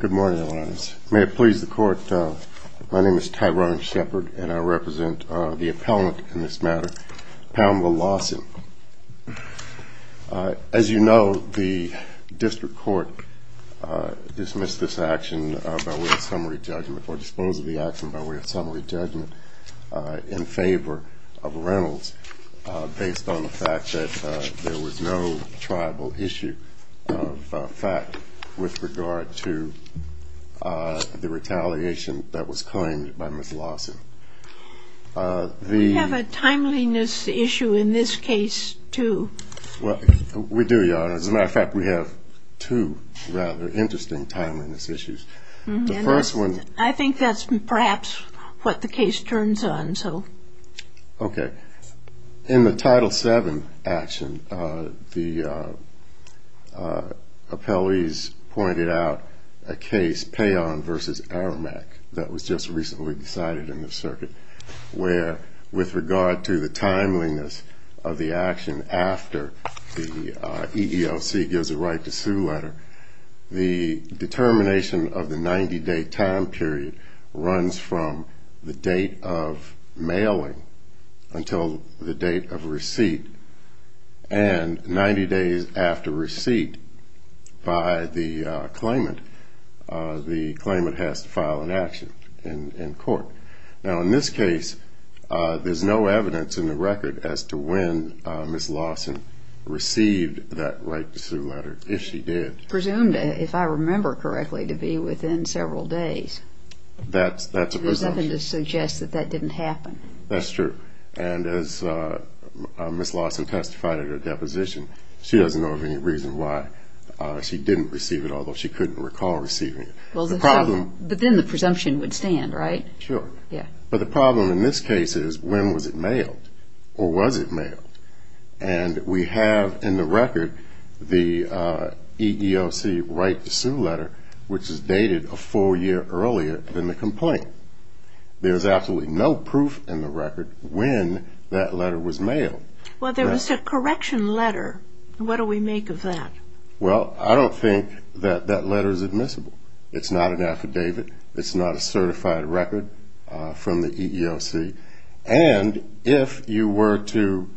Good morning, Your Honors. May it please the Court, my name is Tyrone Shepard and I represent the appellant in this matter, Pamela Lawson. As you know, the District Court dismissed this action by way of summary judgment, or disposed of the action by way of summary judgment, in favor of Reynolds based on the fact that there was no tribal issue of fact with regard to the retaliation that was claimed by Ms. Lawson. We have a timeliness issue in this case, too. We do, Your Honors. As a matter of fact, we have two rather interesting timeliness issues. I think that's perhaps what the case turns on. Okay. In the Title VII action, the appellees pointed out a case, Payon v. Aramack, that was just recently decided in the circuit, where, with regard to the timeliness of the action after the EEOC gives a right to sue letter, the determination of the 90-day time period runs from the date of mailing until the date of receipt, and 90 days after receipt by the claimant, the claimant has to file an action in court. Now, in this case, there's no evidence in the record as to when Ms. Lawson received that right to sue letter, if she did. Presumed, if I remember correctly, to be within several days. That's a presumption. There's nothing to suggest that that didn't happen. That's true. And as Ms. Lawson testified at her deposition, she doesn't know of any reason why she didn't receive it, although she couldn't recall receiving it. But then the presumption would stand, right? Sure. But the problem in this case is, when was it mailed, or was it mailed? And we have in the record the EEOC right to sue letter, which is dated a full year earlier than the complaint. There's absolutely no proof in the record when that letter was mailed. Well, there was a correction letter. What do we make of that? Well, I don't think that that letter is admissible. It's not an affidavit. It's not a certified record from the EEOC. And if you were to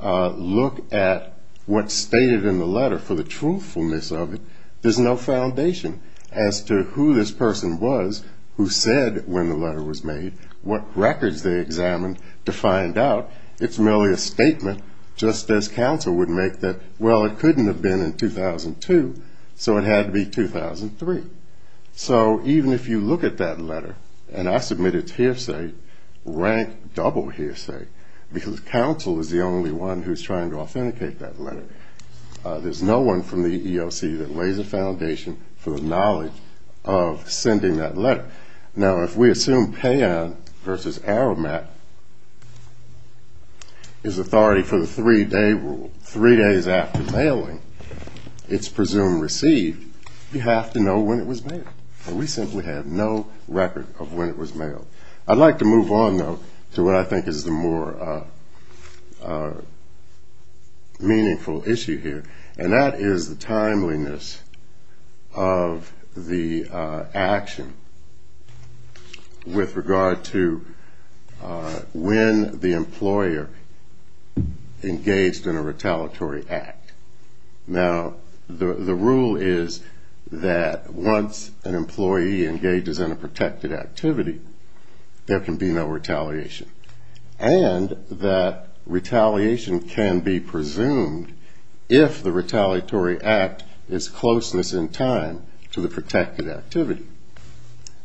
look at what's stated in the letter for the truthfulness of it, there's no foundation as to who this person was who said when the letter was made what records they examined to find out. It's merely a statement, just as counsel would make that, well, it couldn't have been in 2002, so it had to be 2003. So even if you look at that letter, and I submit it to hearsay, rank double hearsay, because counsel is the only one who's trying to authenticate that letter. There's no one from the EEOC that lays a foundation for the knowledge of sending that letter. Now, if we assume payout versus arrow mat is authority for the three-day rule, three days after mailing, it's presumed received, you have to know when it was mailed. And we simply have no record of when it was mailed. I'd like to move on, though, to what I think is the more meaningful issue here, and that is the timeliness of the action with regard to when the employer engaged in a retaliatory act. Now, the rule is that once an employee engages in a protected activity, there can be no retaliation, and that retaliation can be presumed if the retaliatory act is closeness in time to the protected activity.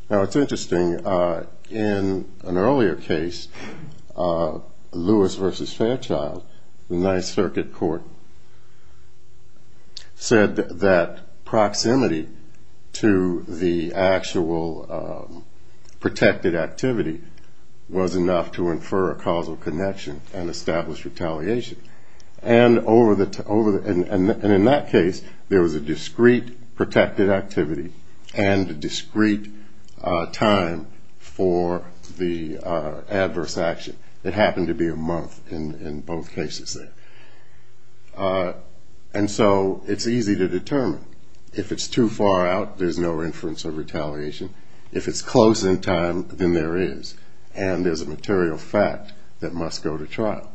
Now, it's interesting. In an earlier case, Lewis v. Fairchild, the Ninth Circuit Court said that proximity to the actual protected activity was enough to infer a causal connection and establish retaliation. And in that case, there was a discrete protected activity and a discrete time for the adverse action. It happened to be a month in both cases there. And so it's easy to determine. If it's too far out, there's no inference of retaliation. If it's close in time, then there is, and there's a material fact that must go to trial.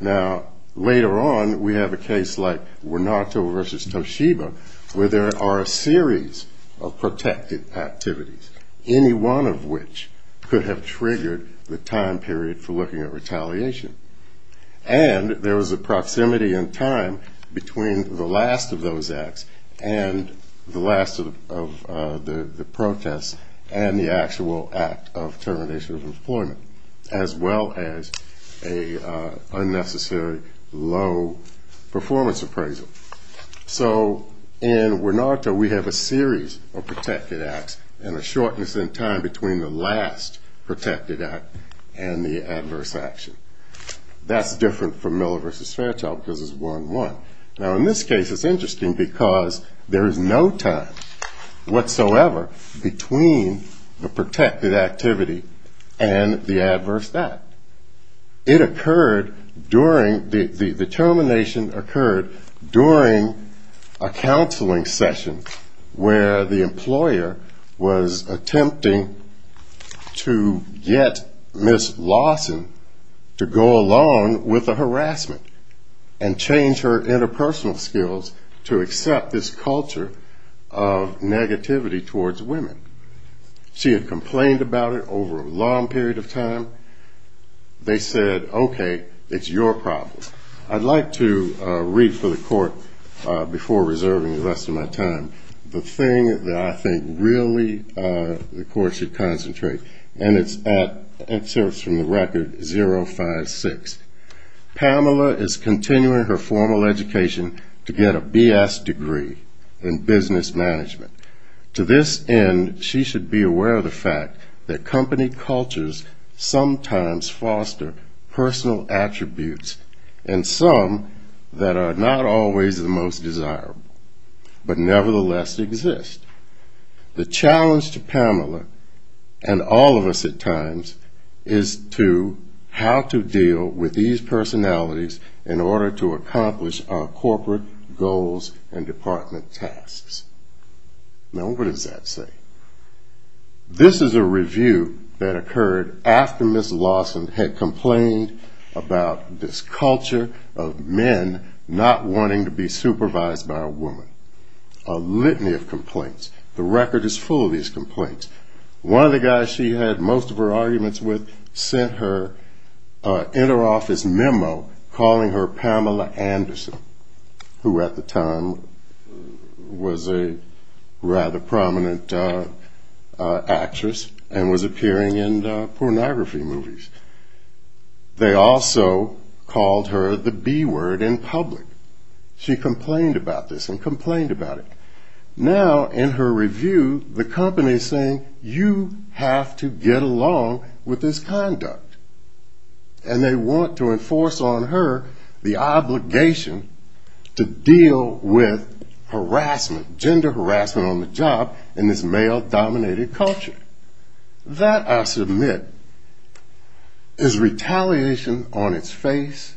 Now, later on, we have a case like Wenato v. Toshiba, where there are a series of protected activities, any one of which could have triggered the time period for looking at retaliation. And there was a proximity in time between the last of those acts and the last of the protests and the actual act of termination of employment, as well as an unnecessary, low-performance appraisal. So in Wenato, we have a series of protected acts and a shortness in time between the last protected act and the adverse action. That's different from Miller v. Fairchild, because it's one-one. Now, in this case, it's interesting, because there is no time whatsoever between the protected activity and the adverse act. It occurred during, the termination occurred during a counseling session, where the employer was attempting to get Ms. Lawson to go along with the harassment and change her interpersonal skills to accept this culture of negativity towards women. She had complained about it over a long period of time. They said, okay, it's your problem. I'd like to read for the court, before reserving the rest of my time, the thing that I think really the court should concentrate, and it starts from the record 056. Pamela is continuing her formal education to get a BS degree in business management. To this end, she should be aware of the fact that company cultures sometimes foster personal attributes, and some that are not always the most desirable, but nevertheless exist. The challenge to Pamela, and all of us at times, is to how to deal with these personalities in order to accomplish our corporate goals and department tasks. Now, what does that say? This is a review that occurred after Ms. Lawson had complained about this culture of men not wanting to be supervised by a woman. A litany of complaints. The record is full of these complaints. One of the guys she had most of her arguments with sent her an interoffice memo calling her Pamela Anderson, who at the time was a rather prominent actress and was appearing in pornography movies. They also called her the B word in public. She complained about this and complained about it. Now, in her review, the company is saying you have to get along with this conduct. And they want to enforce on her the obligation to deal with harassment, gender harassment on the job in this male-dominated culture. That, I submit, is retaliation on its face.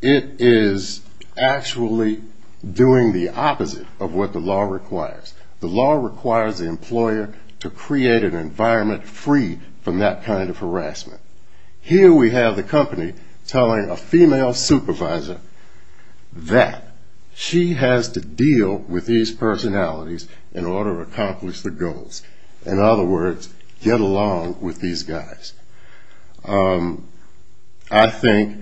It is actually doing the opposite of what the law requires. The law requires the employer to create an environment free from that kind of harassment. Here we have the company telling a female supervisor that she has to deal with these personalities in order to accomplish the goals. In other words, get along with these guys. I think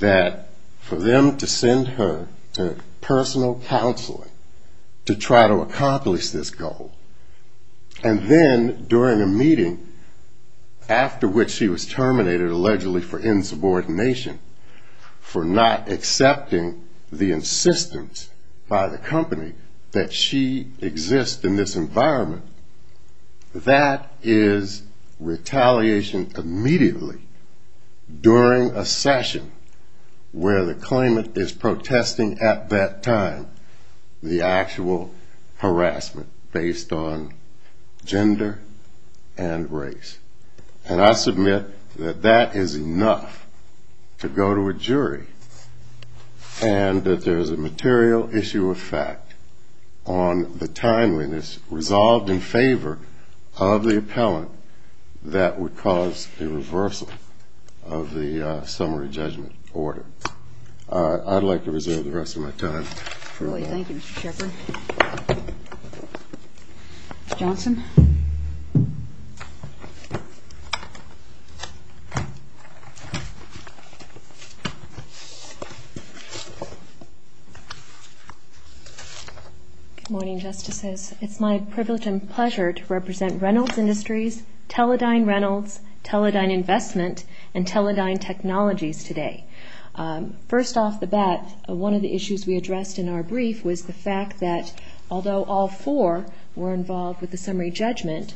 that for them to send her to personal counseling to try to accomplish this goal, and then during a meeting after which she was terminated allegedly for insubordination for not accepting the insistence by the company that she exists in this environment, that is retaliation immediately during a session where the claimant is protesting at that time the actual harassment based on gender and race. And I submit that that is enough to go to a jury and that there is a material issue of fact on the timeliness resolved in favor of the appellant that would cause a reversal of the summary judgment order. I'd like to reserve the rest of my time. Thank you, Mr. Shepard. Johnson? Good morning, Justices. It's my privilege and pleasure to represent Reynolds Industries, Teledyne Reynolds, Teledyne Investment, and Teledyne Technologies today. First off the bat, one of the issues we addressed in our brief was the fact that although all four were involved with the summary judgment,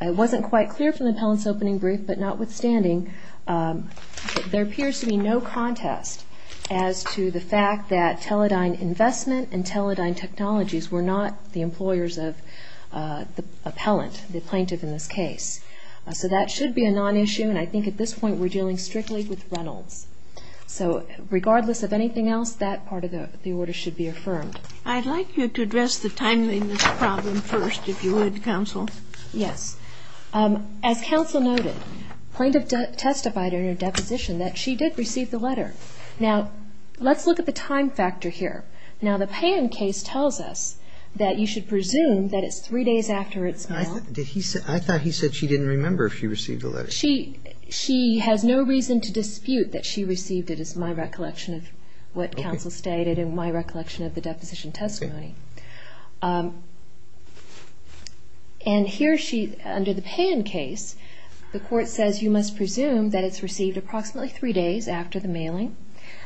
it wasn't quite clear from the appellant's opening brief, but notwithstanding, there appears to be no contest as to the fact that Teledyne Investment and Teledyne Technologies were not the employers of the appellant, the plaintiff in this case. So that should be a non-issue, and I think at this point we're dealing strictly with Reynolds. So regardless of anything else, that part of the order should be affirmed. I'd like you to address the timeliness problem first, if you would, counsel. Yes. As counsel noted, plaintiff testified in her deposition that she did receive the letter. Now, let's look at the time factor here. Now, the Pan case tells us that you should presume that it's three days after its mail. I thought he said she didn't remember if she received the letter. She has no reason to dispute that she received it, is my recollection of what counsel stated and my recollection of the deposition testimony. And here, under the Pan case, the court says you must presume that it's received approximately three days after the mailing.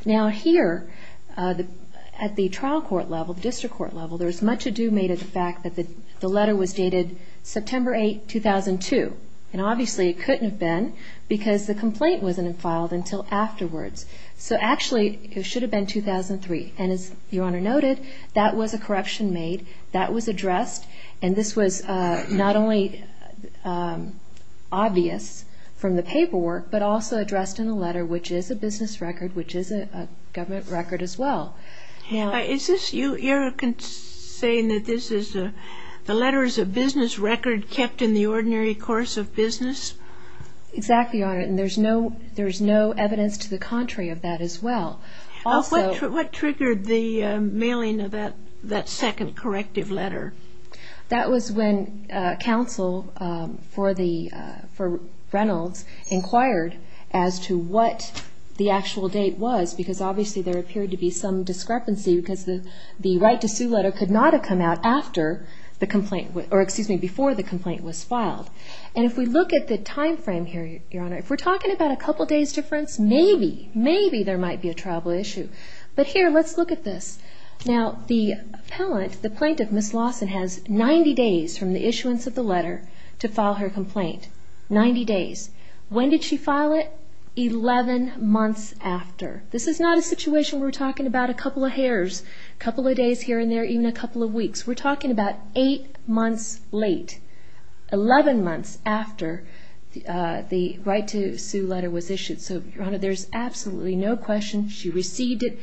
Now here, at the trial court level, the district court level, there's much ado made of the fact that the letter was dated September 8, 2002, and obviously it couldn't have been because the complaint wasn't filed until afterwards. So actually, it should have been 2003. And as Your Honor noted, that was a corruption made, that was addressed, and this was not only obvious from the paperwork but also addressed in the letter, which is a business record, which is a government record as well. Is this, you're saying that this is, the letter is a business record kept in the ordinary course of business? Exactly, Your Honor, and there's no evidence to the contrary of that as well. What triggered the mailing of that second corrective letter? That was when counsel for Reynolds inquired as to what the actual date was, because obviously there appeared to be some discrepancy because the right to sue letter could not have come out after the complaint, or excuse me, before the complaint was filed. And if we look at the time frame here, Your Honor, if we're talking about a couple days difference, maybe, maybe there might be a tribal issue. But here, let's look at this. Now, the plaintiff, Ms. Lawson, has 90 days from the issuance of the letter to file her complaint, 90 days. When did she file it? She filed it 11 months after. This is not a situation where we're talking about a couple of hairs, a couple of days here and there, even a couple of weeks. We're talking about 8 months late, 11 months after the right to sue letter was issued. So, Your Honor, there's absolutely no question she received it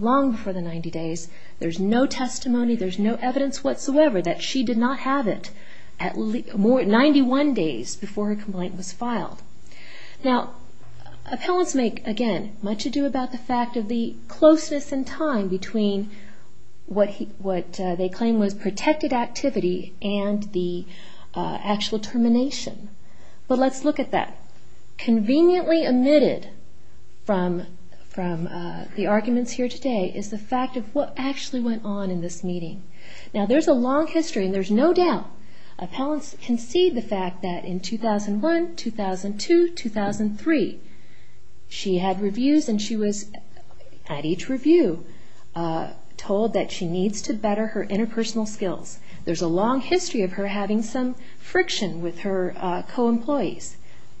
long before the 90 days. There's no testimony, there's no evidence whatsoever that she did not have it 91 days before her complaint was filed. Now, appellants make, again, much ado about the fact of the closeness in time between what they claim was protected activity and the actual termination. But let's look at that. Conveniently omitted from the arguments here today is the fact of what actually went on in this meeting. Now, there's a long history and there's no doubt Appellants concede the fact that in 2001, 2002, 2003, she had reviews and she was, at each review, told that she needs to better her interpersonal skills. There's a long history of her having some friction with her co-employees.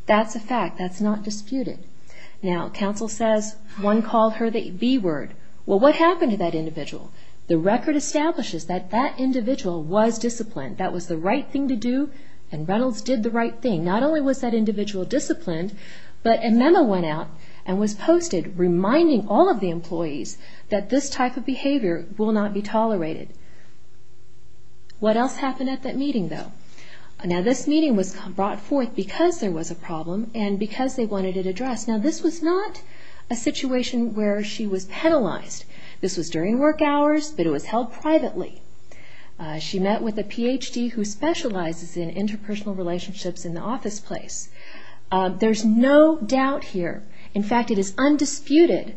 That's a fact, that's not disputed. Now, counsel says one called her the B word. Well, what happened to that individual? The record establishes that that individual was disciplined. That was the right thing to do and Reynolds did the right thing. Not only was that individual disciplined, but a memo went out and was posted reminding all of the employees that this type of behavior will not be tolerated. What else happened at that meeting, though? Now, this meeting was brought forth because there was a problem and because they wanted it addressed. Now, this was not a situation where she was penalized. This was during work hours, but it was held privately. She met with a Ph.D. who specializes in interpersonal relationships in the office place. There's no doubt here. In fact, it is undisputed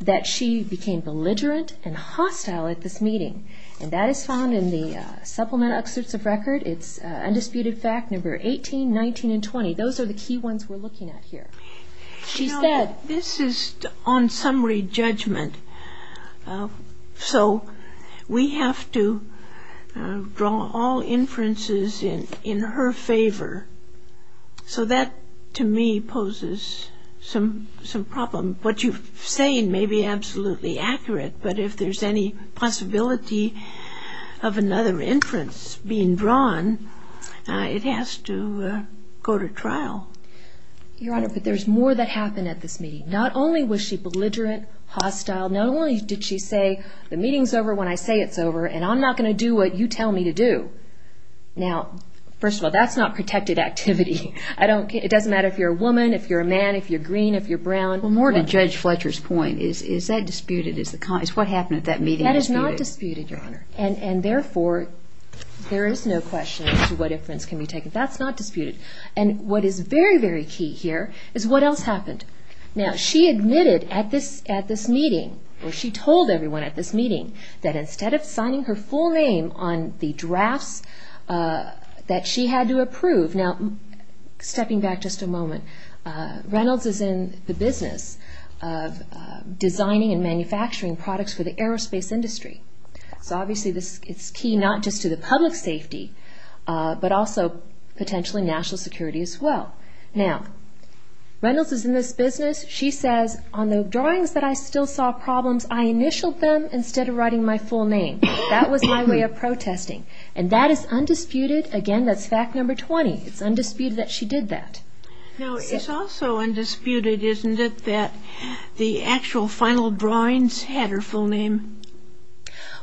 that she became belligerent and hostile at this meeting, and that is found in the supplement excerpts of record. It's undisputed fact number 18, 19, and 20. Those are the key ones we're looking at here. You know, this is on summary judgment, so we have to draw all inferences in her favor. So that, to me, poses some problem. What you're saying may be absolutely accurate, but if there's any possibility of another inference being drawn, it has to go to trial. Your Honor, but there's more that happened at this meeting. Not only was she belligerent, hostile. Not only did she say, the meeting's over when I say it's over, and I'm not going to do what you tell me to do. Now, first of all, that's not protected activity. It doesn't matter if you're a woman, if you're a man, if you're green, if you're brown. Well, more to Judge Fletcher's point. Is that disputed? Is what happened at that meeting disputed? That is not disputed, Your Honor. And therefore, there is no question as to what inference can be taken. That's not disputed. And what is very, very key here is what else happened. Now, she admitted at this meeting, or she told everyone at this meeting, that instead of signing her full name on the drafts that she had to approve. Now, stepping back just a moment, Reynolds is in the business of designing and manufacturing products for the aerospace industry. So obviously, it's key not just to the public safety, but also potentially national security as well. Now, Reynolds is in this business. She says, on the drawings that I still saw problems, I initialed them instead of writing my full name. That was my way of protesting. And that is undisputed. Again, that's fact number 20. It's undisputed that she did that. Now, it's also undisputed, isn't it, that the actual final drawings had her full name?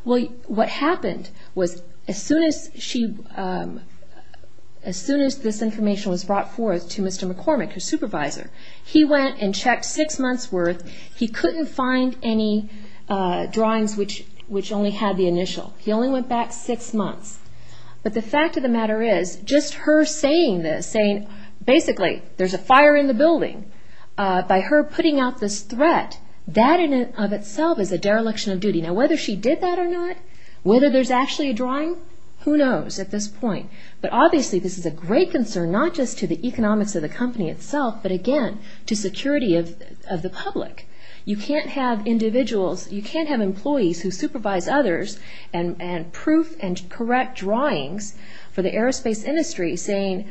Well, what happened was, as soon as this information was brought forth to Mr. McCormick, her supervisor, he went and checked six months' worth. He couldn't find any drawings which only had the initial. He only went back six months. But the fact of the matter is, just her saying this, by her putting out this threat, that in and of itself is a dereliction of duty. Now, whether she did that or not, whether there's actually a drawing, who knows at this point. But obviously, this is a great concern not just to the economics of the company itself, but again, to security of the public. You can't have individuals, you can't have employees who supervise others and proof and correct drawings for the aerospace industry saying,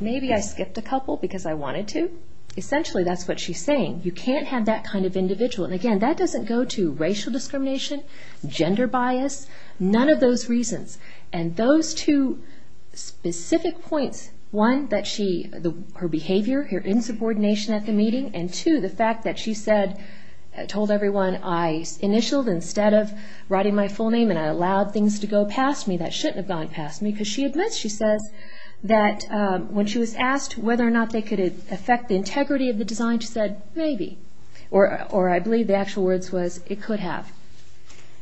maybe I skipped a couple because I wanted to. Essentially, that's what she's saying. You can't have that kind of individual. And again, that doesn't go to racial discrimination, gender bias, none of those reasons. And those two specific points, one, her behavior, her insubordination at the meeting, and two, the fact that she told everyone, I initialed instead of writing my full name and I allowed things to go past me that shouldn't have gone past me. Because she admits, she says, that when she was asked whether or not they could affect the integrity of the design, she said, maybe. Or I believe the actual words was, it could have.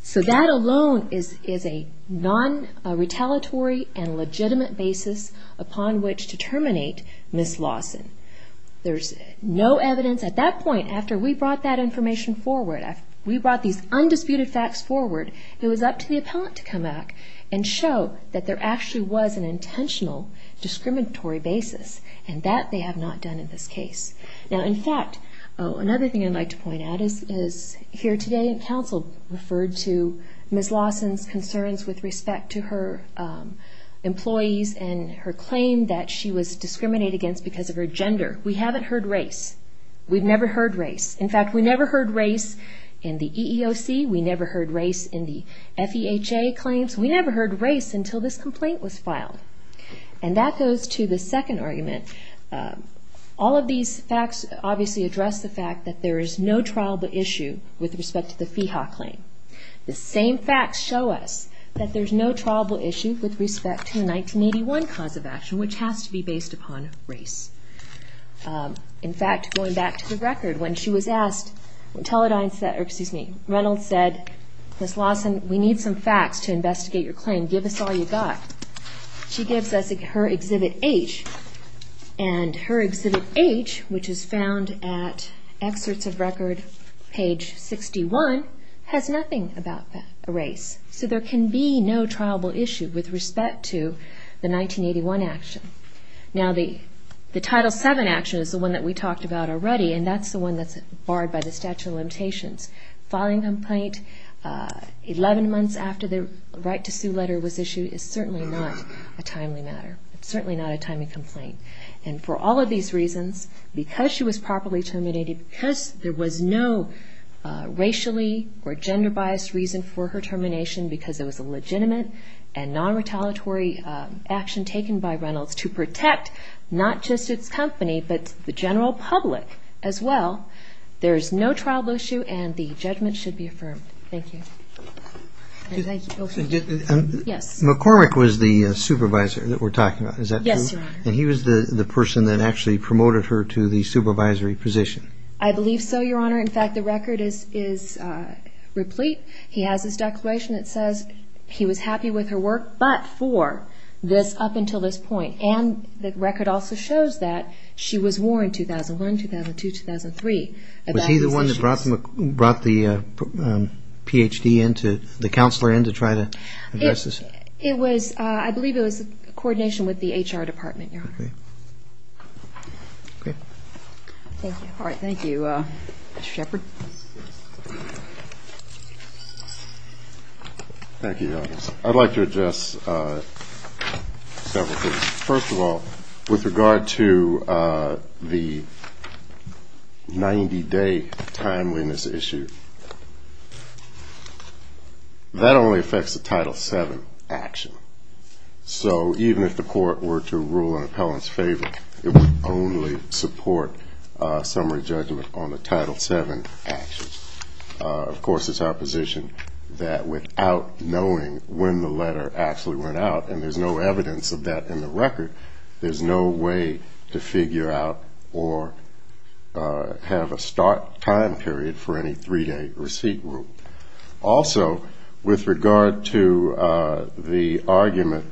So that alone is a non-retaliatory and legitimate basis upon which to terminate Ms. Lawson. There's no evidence at that point, after we brought that information forward, after we brought these undisputed facts forward, it was up to the appellant to come back and show that there actually was an intentional discriminatory basis. And that they have not done in this case. Now, in fact, another thing I'd like to point out is, here today in council referred to Ms. Lawson's concerns with respect to her employees and her claim that she was discriminated against because of her gender. We haven't heard race. We've never heard race. In fact, we never heard race in the EEOC. We never heard race in the FEHA claims. We never heard race until this complaint was filed. And that goes to the second argument. All of these facts obviously address the fact that there is no trialable issue with respect to the FEHA claim. The same facts show us that there's no trialable issue with respect to the 1981 cause of action, which has to be based upon race. In fact, going back to the record, when she was asked, Reynolds said, Ms. Lawson, we need some facts to investigate your claim. Give us all you've got. She gives us her Exhibit H, and her Exhibit H, which is found at Excerpts of Record, page 61, has nothing about race. So there can be no trialable issue with respect to the 1981 action. Now, the Title VII action is the one that we talked about already, and that's the one that's barred by the statute of limitations. Filing a complaint 11 months after the right to sue letter was issued is certainly not a timely matter. It's certainly not a timely complaint. And for all of these reasons, because she was properly terminated, because there was no racially or gender-biased reason for her termination, because it was a legitimate and non-retaliatory action taken by Reynolds to protect not just its company, but the general public as well, there is no trialable issue, and the judgment should be affirmed. Thank you. McCormick was the supervisor that we're talking about, is that true? Yes, Your Honor. And he was the person that actually promoted her to the supervisory position. I believe so, Your Honor. In fact, the record is replete. He has this declaration that says he was happy with her work, but for this up until this point. And the record also shows that she was warned 2001, 2002, 2003. Was he the one that brought the Ph.D. into, the counselor in to try to address this? It was, I believe it was coordination with the HR department, Your Honor. Okay. Thank you. All right, thank you. Mr. Shepard. Thank you, Your Honor. I'd like to address several things. First of all, with regard to the 90-day timeliness issue, that only affects the Title VII action. So even if the court were to rule an appellant's favor, it would only support summary judgment on the Title VII action. Of course, it's our position that without knowing when the letter actually went out, and there's no evidence of that in the record, there's no way to figure out or have a start time period for any three-day receipt rule. Also, with regard to the argument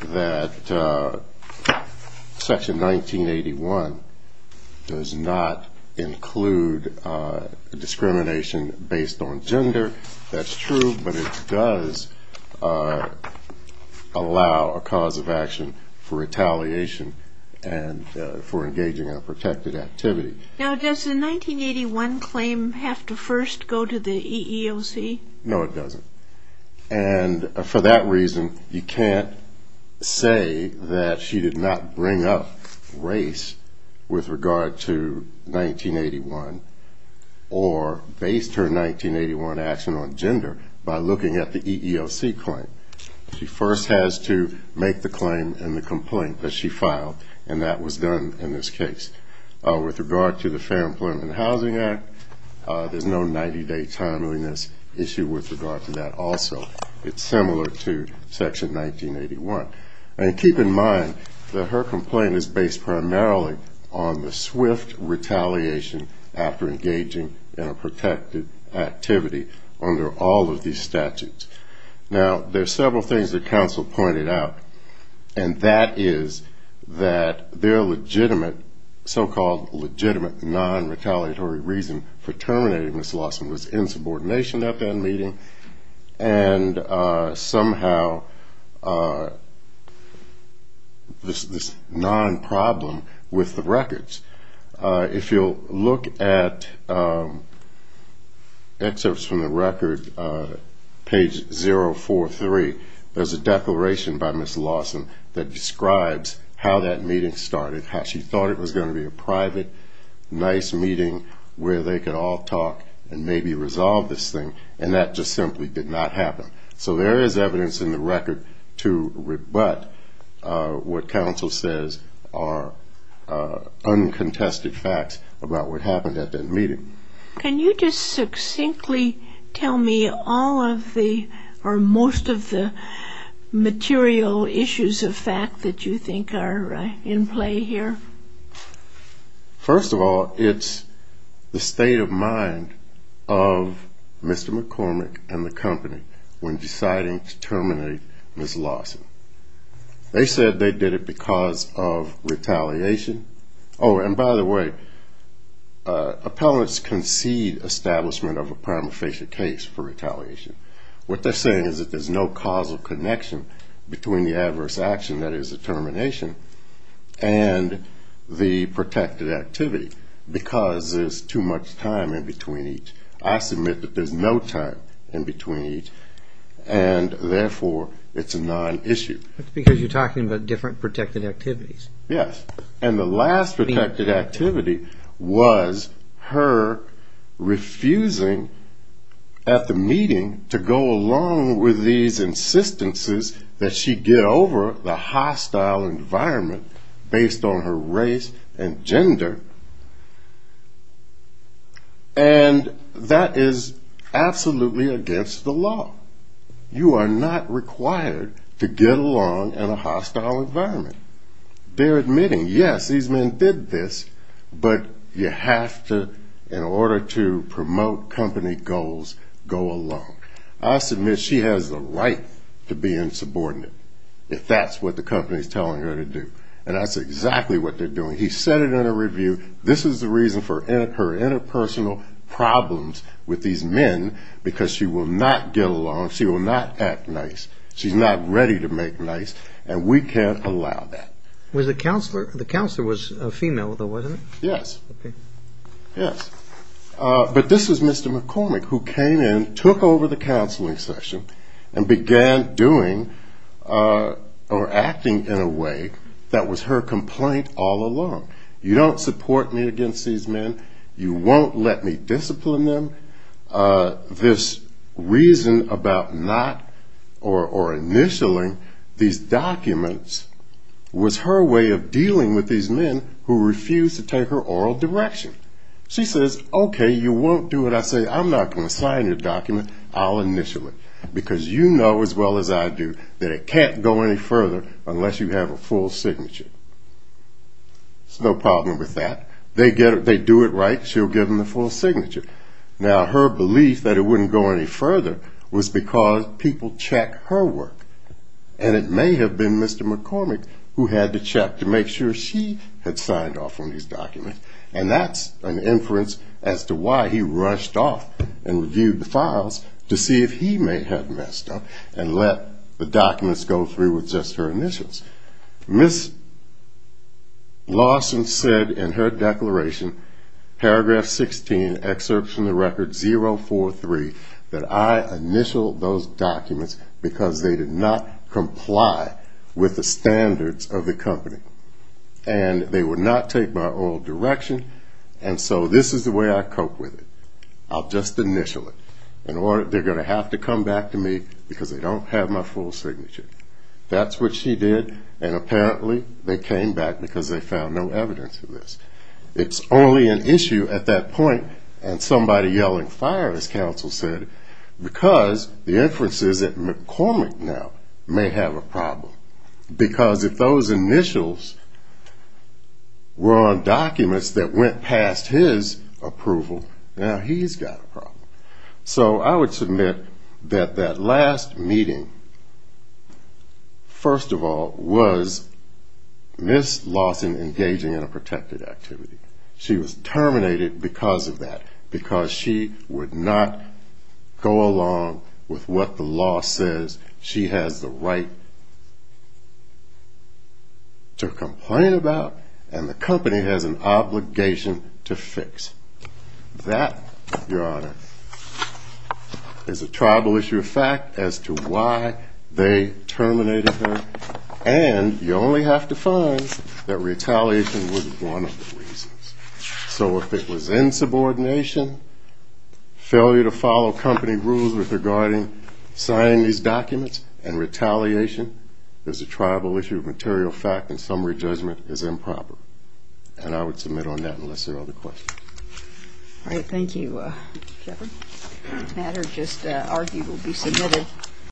that Section 1981 does not include discrimination based on gender, that's true, but it does allow a cause of action for retaliation and for engaging in a protected activity. Now, does the 1981 claim have to first go to the EEOC? No, it doesn't. And for that reason, you can't say that she did not bring up race with regard to 1981 or based her 1981 action on gender by looking at the EEOC claim. She first has to make the claim in the complaint that she filed, and that was done in this case. With regard to the Fair Employment and Housing Act, there's no 90-day timeliness issue with regard to that also. It's similar to Section 1981. And keep in mind that her complaint is based primarily on the swift retaliation after engaging in a protected activity under all of these statutes. Now, there are several things that counsel pointed out, and that is that their legitimate, so-called legitimate non-retaliatory reason for terminating Ms. Lawson was insubordination at that meeting and somehow this non-problem with the records. If you'll look at excerpts from the record, page 043, there's a declaration by Ms. Lawson that describes how that meeting started, how she thought it was going to be a private, nice meeting where they could all talk and maybe resolve this thing, and that just simply did not happen. So there is evidence in the record to rebut what counsel says are uncontested facts about what happened at that meeting. First of all, it's the state of mind of Mr. McCormick and the company. When deciding to terminate Ms. Lawson, they said they did it because of retaliation. Oh, and by the way, appellants concede establishment of a prima facie case for retaliation. What they're saying is that there's no causal connection between the adverse action, that is the termination, and the protected activity because there's too much time in between each. I submit that there's no time in between each and therefore it's a non-issue. That's because you're talking about different protected activities. Yes, and the last protected activity was her refusing at the meeting to go along with these insistences that she get over the hostile environment based on her race and gender. And that is absolutely against the law. You are not required to get along in a hostile environment. They're admitting, yes, these men did this, but you have to, in order to promote company goals, go along. I submit she has the right to be insubordinate if that's what the company is telling her to do. And that's exactly what they're doing. He said it in a review, this is the reason for her interpersonal problems with these men because she will not get along, she will not act nice, she's not ready to make nice, and we can't allow that. Was the counselor, the counselor was a female though, wasn't it? Yes. Okay. Yes. But this is Mr. McCormick who came in, took over the counseling session, and began doing or acting in a way that was her complaint all along. You don't support me against these men. You won't let me discipline them. This reason about not or initialing these documents was her way of dealing with these men who refused to take her oral direction. She says, okay, you won't do it. And I say, I'm not going to sign your document, I'll initial it, because you know as well as I do that it can't go any further unless you have a full signature. There's no problem with that. They do it right, she'll give them the full signature. Now, her belief that it wouldn't go any further was because people check her work, and it may have been Mr. McCormick who had to check to make sure she had signed off on these documents. And that's an inference as to why he rushed off and reviewed the files to see if he may have messed up and let the documents go through with just her initials. Ms. Lawson said in her declaration, paragraph 16, excerpt from the record 043, that I initialed those documents because they did not comply with the standards of the company. And they would not take my oral direction, and so this is the way I cope with it. I'll just initial it. They're going to have to come back to me because they don't have my full signature. That's what she did, and apparently they came back because they found no evidence of this. It's only an issue at that point, and somebody yelling, fire, as counsel said, because the inference is that McCormick now may have a problem. Because if those initials were on documents that went past his approval, now he's got a problem. So I would submit that that last meeting, first of all, was Ms. Lawson engaging in a protected activity. She was terminated because of that, because she would not go along with what the law says. She has the right to complain about, and the company has an obligation to fix. That, Your Honor, is a tribal issue of fact as to why they terminated her, and you only have to find that retaliation was one of the reasons. So if it was insubordination, failure to follow company rules regarding signing these documents, and retaliation is a tribal issue of material fact, and summary judgment is improper. And I would submit on that unless there are other questions. All right, thank you, Jeffrey. The matter just argued will be submitted.